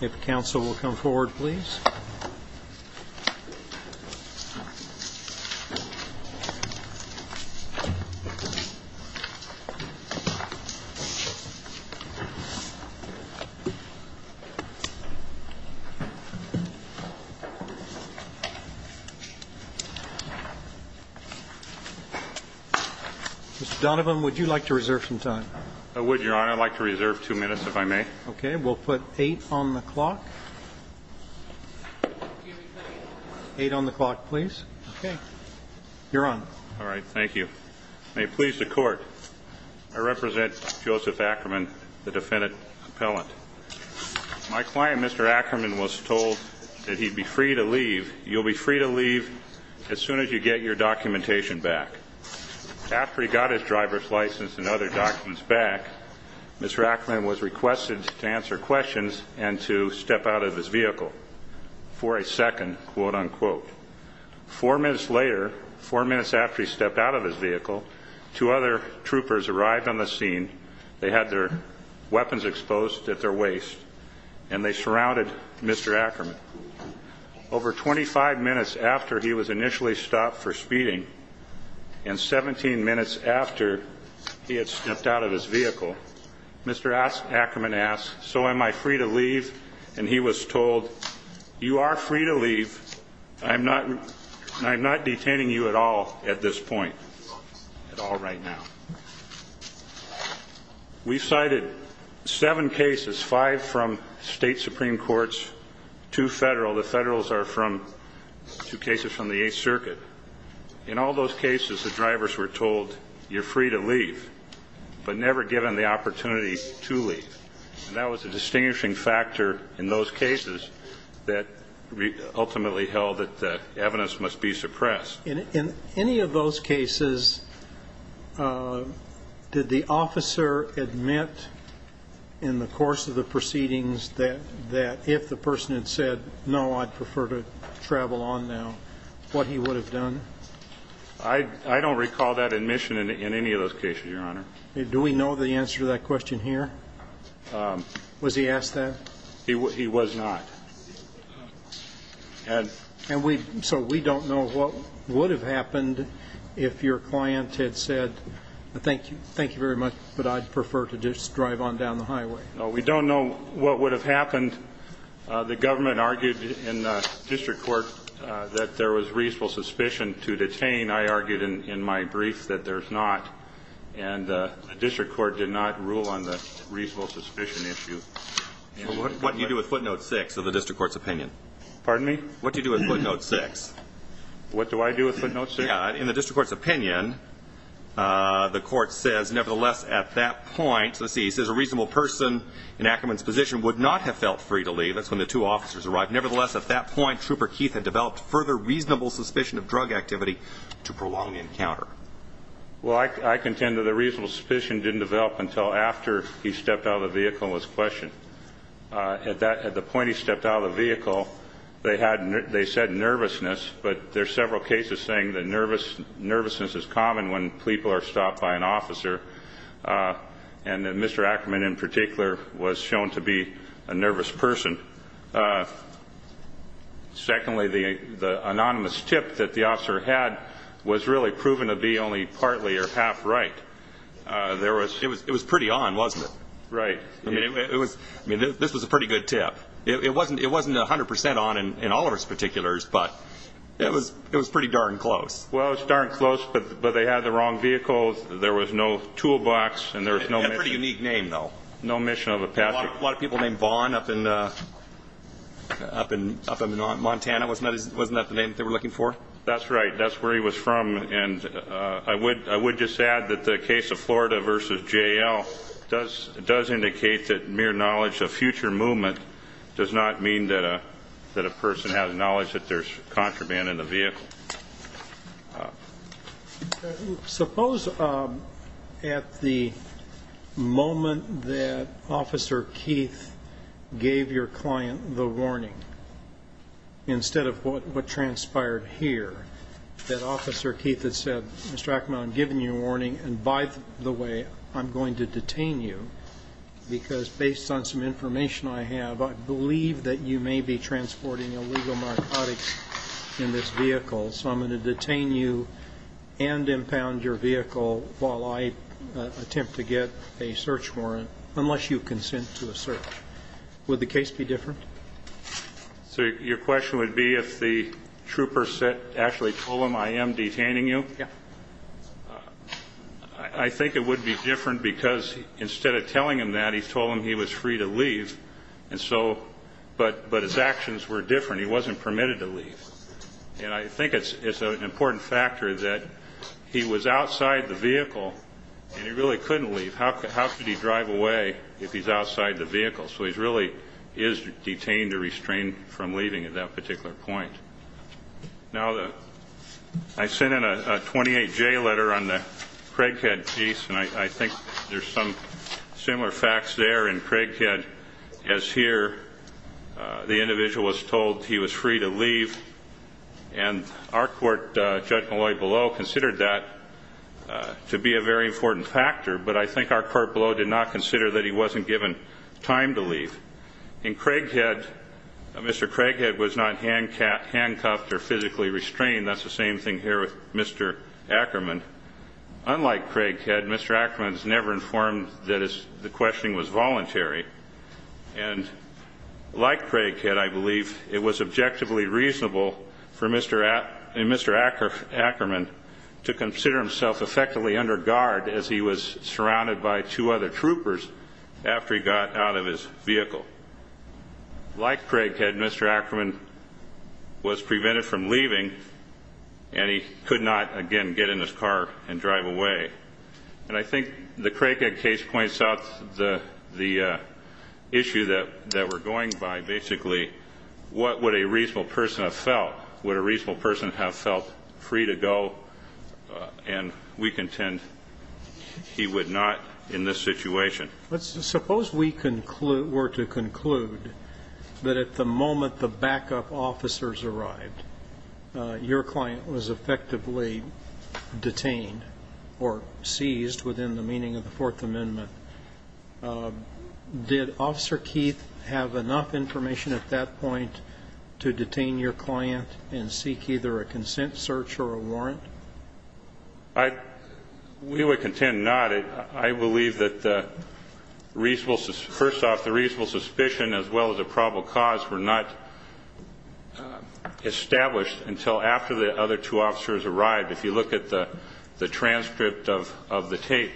If counsel will come forward, please. Mr. Donovan, would you like to reserve some time? I would, Your Honor. I'd like to reserve two minutes, if I may. Okay. We'll put eight on the clock. Eight on the clock, please. Okay. You're on. All right. Thank you. May it please the Court, I represent Joseph Ackerman, the defendant appellant. My client, Mr. Ackerman, was told that he'd be free to leave. You'll be free to leave as soon as you get your documentation back. After he got his driver's license and other documents back, Mr. Ackerman was requested to answer questions and to step out of his vehicle for a second, quote, unquote. Four minutes later, four minutes after he stepped out of his vehicle, two other troopers arrived on the scene. They had their weapons exposed at their waist, and they surrounded Mr. Ackerman. Over 25 minutes after he was initially stopped for speeding and 17 minutes after he had stepped out of his vehicle, Mr. Ackerman asked, so am I free to leave? And he was told, you are free to leave. I'm not detaining you at all at this point, at all right now. We've cited seven cases, five from state supreme courts, two federal. The federals are from two cases from the Eighth Circuit. In all those cases, the drivers were told, you're free to leave, but never given the opportunity to leave. And that was a distinguishing factor in those cases that ultimately held that the evidence must be suppressed. In any of those cases, did the officer admit in the course of the proceedings that if the person had said, no, I'd prefer to travel on now, what he would have done? I don't recall that admission in any of those cases, Your Honor. Do we know the answer to that question here? Was he asked that? He was not. And so we don't know what would have happened if your client had said, thank you very much, but I'd prefer to just drive on down the highway. No, we don't know what would have happened. The government argued in the district court that there was reasonable suspicion to detain. I argued in my brief that there's not, and the district court did not rule on the reasonable suspicion issue. What do you do with footnote six of the district court's opinion? Pardon me? What do you do with footnote six? What do I do with footnote six? In the district court's opinion, the court says, nevertheless, at that point, let's see, it says a reasonable person in Ackerman's position would not have felt free to leave. That's when the two officers arrived. Nevertheless, at that point, Trooper Keith had developed further reasonable suspicion of drug activity to prolong the encounter. Well, I contend that the reasonable suspicion didn't develop until after he stepped out of the vehicle was questioned. At the point he stepped out of the vehicle, they said nervousness, but there are several cases saying that nervousness is common when people are stopped by an officer, and that Mr. Ackerman in particular was shown to be a nervous person. Secondly, the anonymous tip that the officer had was really proven to be only partly or half right. It was pretty on, wasn't it? Right. I mean, this was a pretty good tip. It wasn't 100 percent on in Oliver's particulars, but it was pretty darn close. Well, it was darn close, but they had the wrong vehicle. There was no toolbox, and there was no mission. It had a pretty unique name, though. No mission of a passenger. A lot of people named Vaughn up in Montana. Wasn't that the name they were looking for? That's right. That's where he was from. And I would just add that the case of Florida v. J.L. does indicate that mere knowledge of future movement does not mean that a person has knowledge that there's contraband in the vehicle. Suppose at the moment that Officer Keith gave your client the warning, instead of what transpired here, that Officer Keith had said, Mr. Ackerman, I'm giving you a warning, and by the way, I'm going to detain you, because based on some information I have, I believe that you may be transporting illegal narcotics in this vehicle, so I'm going to detain you and impound your vehicle while I attempt to get a search warrant, unless you consent to a search. Would the case be different? So your question would be if the trooper actually told him, I am detaining you? Yeah. I think it would be different, because instead of telling him that, he told him he was free to leave, but his actions were different. He wasn't permitted to leave. And I think it's an important factor that he was outside the vehicle, and he really couldn't leave. How could he drive away if he's outside the vehicle? So he really is detained or restrained from leaving at that particular point. Now, I sent in a 28-J letter on the Craighead case, and I think there's some similar facts there. In Craighead, as here, the individual was told he was free to leave, and our court, Judge Malloy below, considered that to be a very important factor, but I think our court below did not consider that he wasn't given time to leave. In Craighead, Mr. Craighead was not handcuffed or physically restrained. That's the same thing here with Mr. Ackerman. Unlike Craighead, Mr. Ackerman was never informed that the questioning was voluntary. And like Craighead, I believe it was objectively reasonable for Mr. Ackerman to consider himself effectively under guard as he was surrounded by two other troopers after he got out of his vehicle. Like Craighead, Mr. Ackerman was prevented from leaving, and he could not, again, get in his car and drive away. And I think the Craighead case points out the issue that we're going by, basically. What would a reasonable person have felt? Would a reasonable person have felt free to go? And we contend he would not in this situation. Suppose we were to conclude that at the moment the backup officers arrived, your client was effectively detained or seized within the meaning of the Fourth Amendment. Did Officer Keith have enough information at that point to detain your client and seek either a consent search or a warrant? We would contend not. I believe that, first off, the reasonable suspicion as well as the probable cause were not established until after the other two officers arrived. If you look at the transcript of the tape,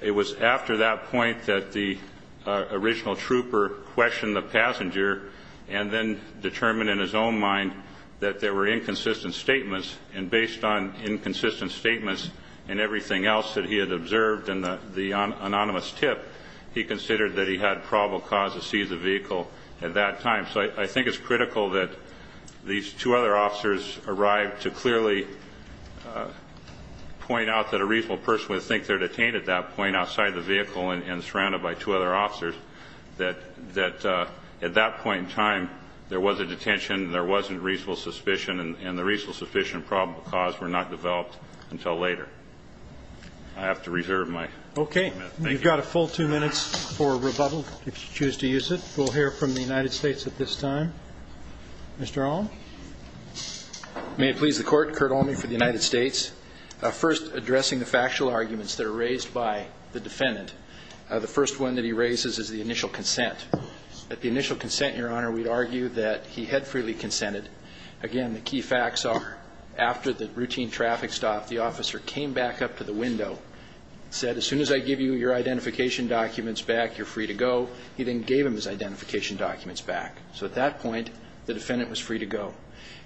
it was after that point that the original trooper questioned the passenger and then determined in his own mind that there were inconsistent statements. And based on inconsistent statements and everything else that he had observed in the anonymous tip, he considered that he had probable cause to seize the vehicle at that time. So I think it's critical that these two other officers arrived to clearly point out that a reasonable person would think they're detained at that point outside the vehicle and surrounded by two other officers, that at that point in time there was a detention, there wasn't reasonable suspicion, and the reasonable suspicion and probable cause were not developed until later. I have to reserve my time. Thank you. Okay. You've got a full two minutes for rebuttal if you choose to use it. We'll hear from the United States at this time. Mr. Olm? May it please the Court. Curt Olme for the United States. First, addressing the factual arguments that are raised by the defendant. The first one that he raises is the initial consent. At the initial consent, Your Honor, we'd argue that he had freely consented. Again, the key facts are after the routine traffic stop, the officer came back up to the window, said, as soon as I give you your identification documents back, you're free to go. He then gave him his identification documents back. So at that point, the defendant was free to go.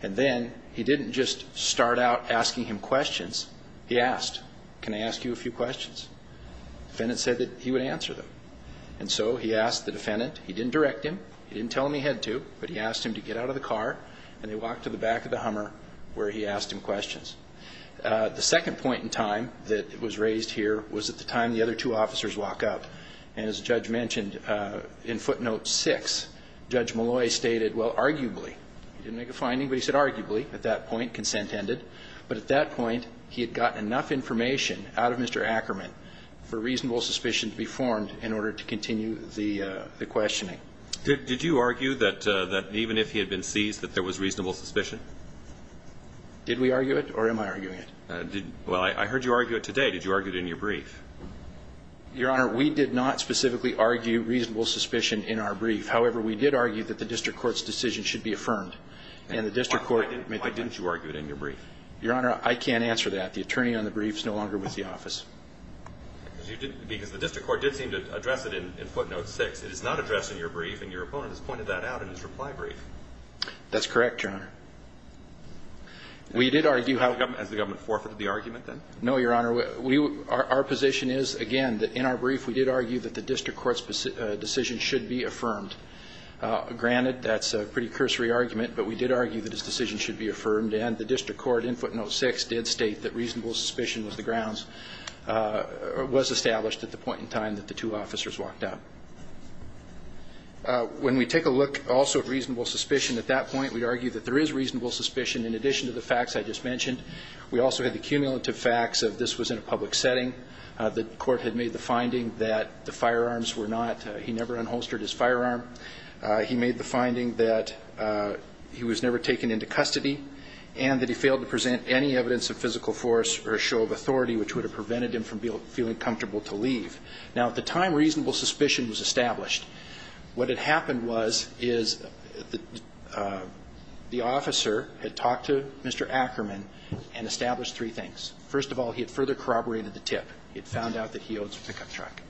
And then he didn't just start out asking him questions. He asked, can I ask you a few questions? The defendant said that he would answer them. And so he asked the defendant. He didn't direct him. He didn't tell him he had to, but he asked him to get out of the car, and they walked to the back of the Hummer where he asked him questions. The second point in time that was raised here was at the time the other two officers walk up. And as the judge mentioned, in footnote 6, Judge Malloy stated, well, arguably, he didn't make a finding, but he said arguably. At that point, consent ended. But at that point, he had gotten enough information out of Mr. Ackerman for reasonable suspicion to be formed in order to continue the questioning. Did you argue that even if he had been seized, that there was reasonable suspicion? Did we argue it, or am I arguing it? Well, I heard you argue it today. Did you argue it in your brief? Your Honor, we did not specifically argue reasonable suspicion in our brief. However, we did argue that the district court's decision should be affirmed. Why didn't you argue it in your brief? Your Honor, I can't answer that. The attorney on the brief is no longer with the office. Because the district court did seem to address it in footnote 6. It is not addressed in your brief, and your opponent has pointed that out in his reply brief. That's correct, Your Honor. We did argue how- Has the government forfeited the argument, then? No, Your Honor. Our position is, again, that in our brief, we did argue that the district court's decision should be affirmed. Granted, that's a pretty cursory argument, but we did argue that his decision should be affirmed, and the district court in footnote 6 did state that reasonable suspicion was the grounds was established at the point in time that the two officers walked out. When we take a look also at reasonable suspicion at that point, we argue that there is reasonable suspicion in addition to the facts I just mentioned. We also had the cumulative facts of this was in a public setting. The court had made the finding that the firearms were not-he never unholstered his firearm. He made the finding that he was never taken into custody and that he failed to present any evidence of physical force or a show of authority, which would have prevented him from feeling comfortable to leave. Now, at the time reasonable suspicion was established, what had happened was is the officer had talked to Mr. Ackerman and established three things. First of all, he had further corroborated the tip. He had found out that he owns a pickup truck.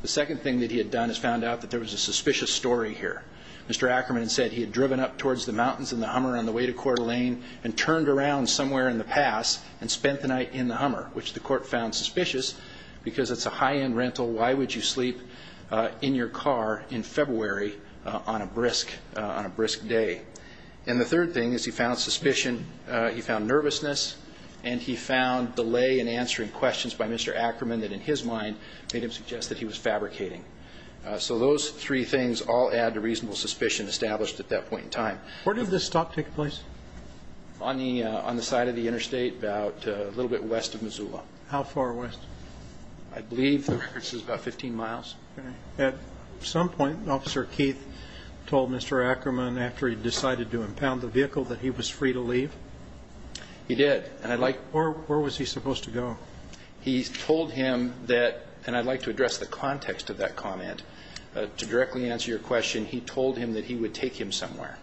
The second thing that he had done is found out that there was a suspicious story here. Mr. Ackerman said he had driven up towards the mountains in the Hummer on the way to Coeur d'Alene and turned around somewhere in the pass and spent the night in the Hummer, which the court found suspicious because it's a high-end rental. Why would you sleep in your car in February on a brisk day? And the third thing is he found suspicion, he found nervousness, and he found delay in answering questions by Mr. Ackerman that in his mind made him suggest that he was fabricating. So those three things all add to reasonable suspicion established at that point in time. Where did this stop take place? On the side of the interstate about a little bit west of Missoula. How far west? I believe the record says about 15 miles. At some point, Officer Keith told Mr. Ackerman, after he decided to impound the vehicle, that he was free to leave? He did. Where was he supposed to go? He told him that, and I'd like to address the context of that comment to directly answer your question, he told him that he would take him somewhere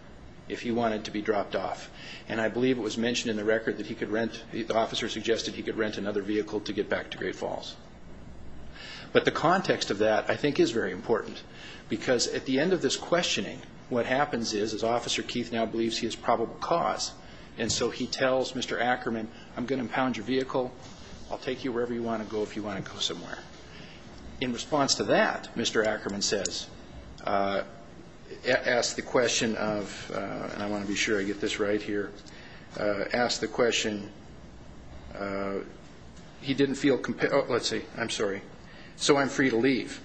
if he wanted to be dropped off, and I believe it was mentioned in the record that he could rent, the officer suggested he could rent another vehicle to get back to Great Falls. But the context of that, I think, is very important because at the end of this questioning, what happens is, is Officer Keith now believes he has probable cause, and so he tells Mr. Ackerman, I'm going to impound your vehicle, I'll take you wherever you want to go if you want to go somewhere. In response to that, Mr. Ackerman says, asked the question of, and I want to be sure I get this right here, asked the question, he didn't feel, let's see, I'm sorry, so I'm free to leave.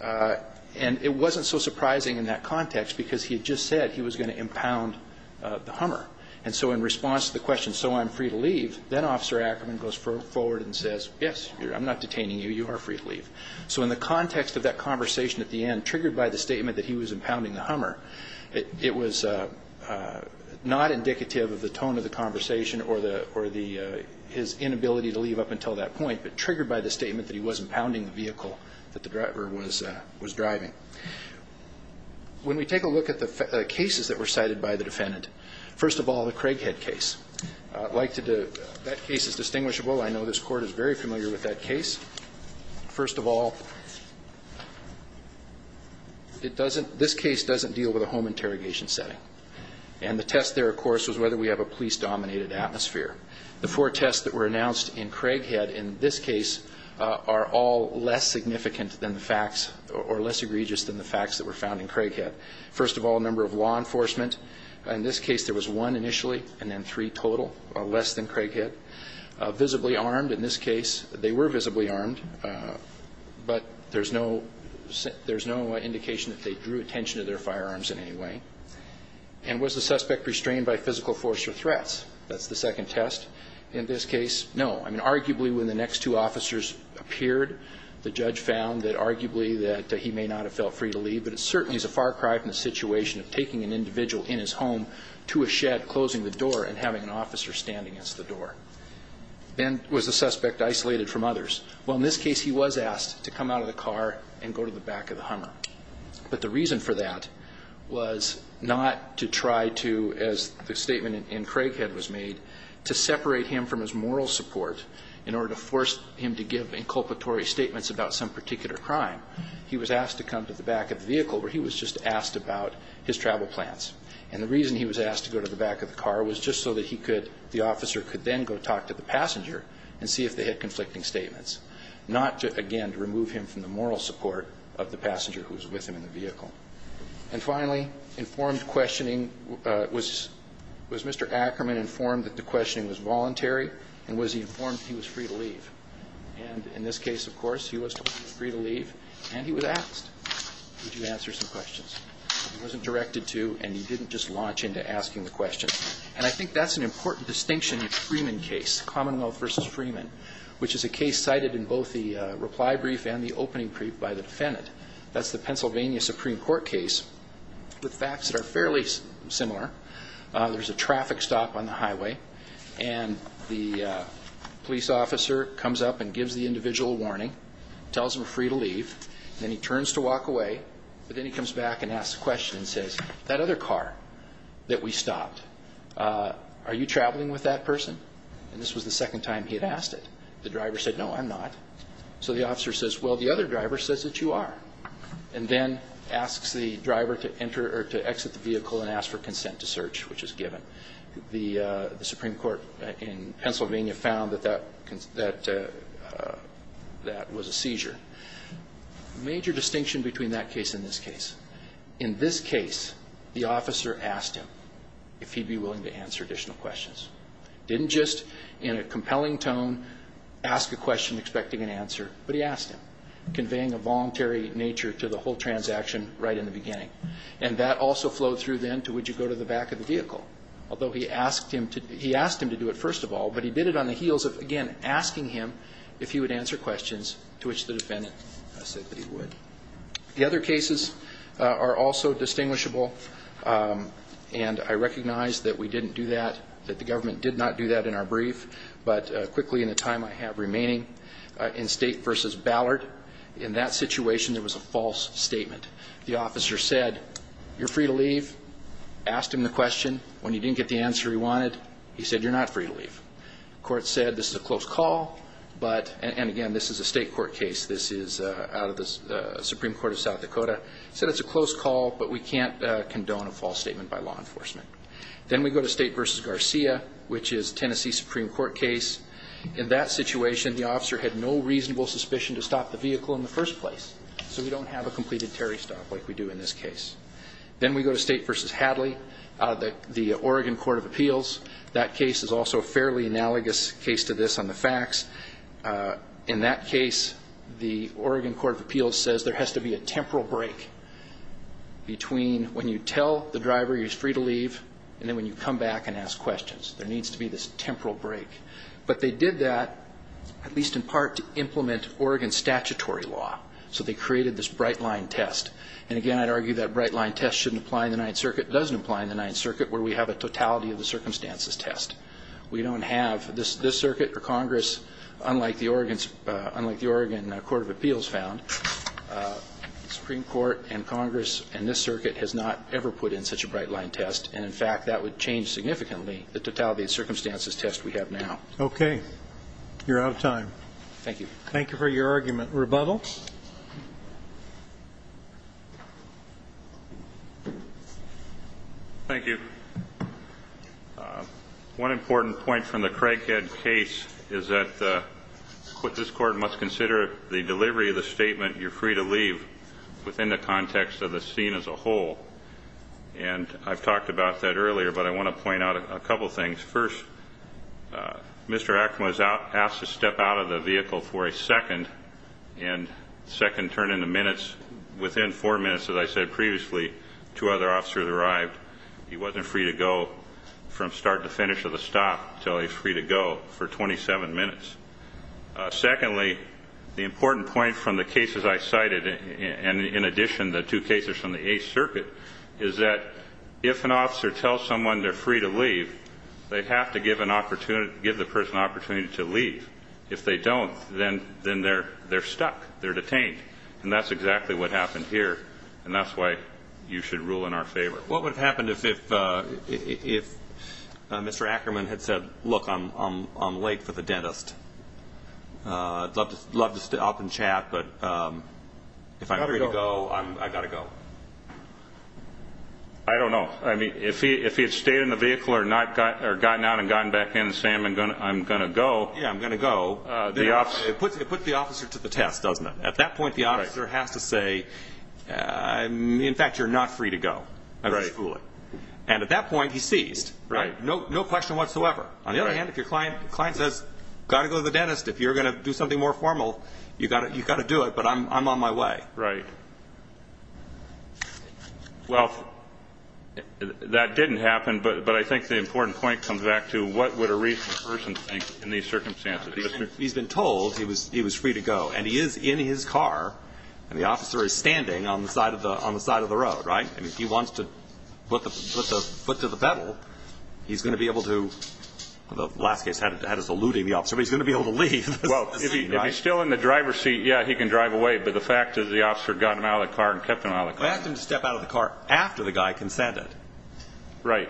And it wasn't so surprising in that context because he had just said he was going to impound the Hummer. And so in response to the question, so I'm free to leave, then Officer Ackerman goes forward and says, yes, I'm not detaining you, you are free to leave. So in the context of that conversation at the end, triggered by the statement that he was impounding the Hummer, it was not indicative of the tone of the conversation or his inability to leave up until that point, but triggered by the statement that he was impounding the vehicle that the driver was driving. When we take a look at the cases that were cited by the defendant, first of all, the Craighead case. I'd like to, that case is distinguishable. I know this Court is very familiar with that case. First of all, it doesn't, this case doesn't deal with a home interrogation setting. And the test there, of course, was whether we have a police-dominated atmosphere. The four tests that were announced in Craighead in this case are all less significant than the facts or less egregious than the facts that were found in Craighead. First of all, number of law enforcement. In this case, there was one initially and then three total, less than Craighead. Visibly armed. In this case, they were visibly armed, but there's no indication that they drew attention to their firearms in any way. And was the suspect restrained by physical force or threats? That's the second test. In this case, no. I mean, arguably when the next two officers appeared, the judge found that arguably that he may not have felt free to leave, but it certainly is a far cry from the situation of taking an individual in his home to a shed, closing the door, and having an officer stand against the door. Then was the suspect isolated from others? Well, in this case, he was asked to come out of the car and go to the back of the Hummer. But the reason for that was not to try to, as the statement in Craighead was made, to separate him from his moral support in order to force him to give inculpatory statements about some particular crime. He was asked to come to the back of the vehicle where he was just asked about his travel plans. And the reason he was asked to go to the back of the car was just so that he could the officer could then go talk to the passenger and see if they had conflicting statements, not to, again, to remove him from the moral support of the passenger who was with him in the vehicle. And finally, informed questioning. Was Mr. Ackerman informed that the questioning was voluntary, and was he informed he was free to leave? And in this case, of course, he was free to leave, and he was asked, would you answer some questions? He wasn't directed to, and he didn't just launch into asking the questions. And I think that's an important distinction in the Freeman case, Commonwealth v. Freeman, which is a case cited in both the reply brief and the opening brief by the defendant. That's the Pennsylvania Supreme Court case with facts that are fairly similar. There's a traffic stop on the highway, and the police officer comes up and gives the individual a warning, tells him he's free to leave, and then he turns to walk away. But then he comes back and asks a question and says, that other car that we stopped, are you traveling with that person? And this was the second time he had asked it. The driver said, no, I'm not. So the officer says, well, the other driver says that you are, and then asks the driver to enter or to exit the vehicle and ask for consent to search, which is given. The Supreme Court in Pennsylvania found that that was a seizure. Major distinction between that case and this case. In this case, the officer asked him if he'd be willing to answer additional questions. Didn't just, in a compelling tone, ask a question expecting an answer, but he asked him, conveying a voluntary nature to the whole transaction right in the beginning. And that also flowed through then to would you go to the back of the vehicle, although he asked him to do it first of all, but he did it on the heels of, again, asking him if he would answer questions, to which the defendant said that he would. The other cases are also distinguishable, and I recognize that we didn't do that, that the government did not do that in our brief, but quickly in the time I have remaining, in State v. Ballard, in that situation there was a false statement. The officer said, you're free to leave, asked him the question. When he didn't get the answer he wanted, he said, you're not free to leave. The court said, this is a close call, but, and again, this is a state court case. This is out of the Supreme Court of South Dakota. Said it's a close call, but we can't condone a false statement by law enforcement. Then we go to State v. Garcia, which is a Tennessee Supreme Court case. In that situation, the officer had no reasonable suspicion to stop the vehicle in the first place, so we don't have a completed Terry stop like we do in this case. Then we go to State v. Hadley, the Oregon Court of Appeals. That case is also a fairly analogous case to this on the facts. In that case, the Oregon Court of Appeals says there has to be a temporal break between when you tell the driver he's free to leave and then when you come back and ask questions. There needs to be this temporal break. But they did that, at least in part, to implement Oregon statutory law. So they created this bright-line test. And, again, I'd argue that bright-line test shouldn't apply in the Ninth Circuit. It doesn't apply in the Ninth Circuit where we have a totality of the circumstances test. We don't have this circuit or Congress, unlike the Oregon Court of Appeals found, the Supreme Court and Congress and this circuit has not ever put in such a bright-line test. And, in fact, that would change significantly the totality of the circumstances test we have now. Okay. You're out of time. Thank you. Thank you for your argument. Rebuttal. Thank you. One important point from the Craighead case is that this Court must consider the delivery of the statement you're free to leave within the context of the scene as a whole. And I've talked about that earlier, but I want to point out a couple things. First, Mr. Ackman was asked to step out of the vehicle for a second, and the second turned into minutes. Within four minutes, as I said previously, two other officers arrived. He wasn't free to go from start to finish of the stop until he was free to go for 27 minutes. Secondly, the important point from the cases I cited, and in addition the two cases from the Eighth Circuit, is that if an officer tells someone they're free to leave, they have to give the person an opportunity to leave. If they don't, then they're stuck. They're detained. And that's exactly what happened here, and that's why you should rule in our favor. What would have happened if Mr. Ackman had said, look, I'm late for the dentist. I'd love to sit up and chat, but if I'm free to go, I've got to go. I don't know. I mean, if he had stayed in the vehicle or gotten out and gotten back in and said, I'm going to go. Yeah, I'm going to go. It puts the officer to the test, doesn't it? At that point, the officer has to say, in fact, you're not free to go. And at that point, he's seized. No question whatsoever. On the other hand, if your client says, got to go to the dentist, if you're going to do something more formal, you've got to do it, but I'm on my way. Right. Well, that didn't happen, but I think the important point comes back to what would a reasonable person think in these circumstances? He's been told he was free to go, and he is in his car, and the officer is standing on the side of the road, right? I mean, if he wants to put the foot to the pedal, he's going to be able to, the last case had us eluding the officer, but he's going to be able to leave. Well, if he's still in the driver's seat, yeah, he can drive away, but the fact is the officer got him out of the car and kept him out of the car. I asked him to step out of the car after the guy consented. Right.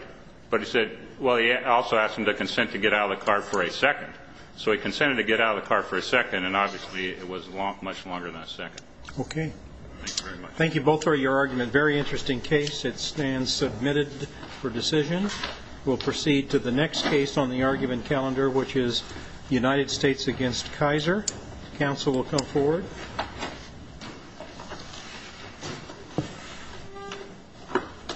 But he said, well, he also asked him to consent to get out of the car for a second. So he consented to get out of the car for a second, and obviously it was much longer than a second. Okay. Thank you very much. Thank you both for your argument. Very interesting case. It stands submitted for decision. We'll proceed to the next case on the argument calendar, which is United States against Kaiser. Counsel will come forward.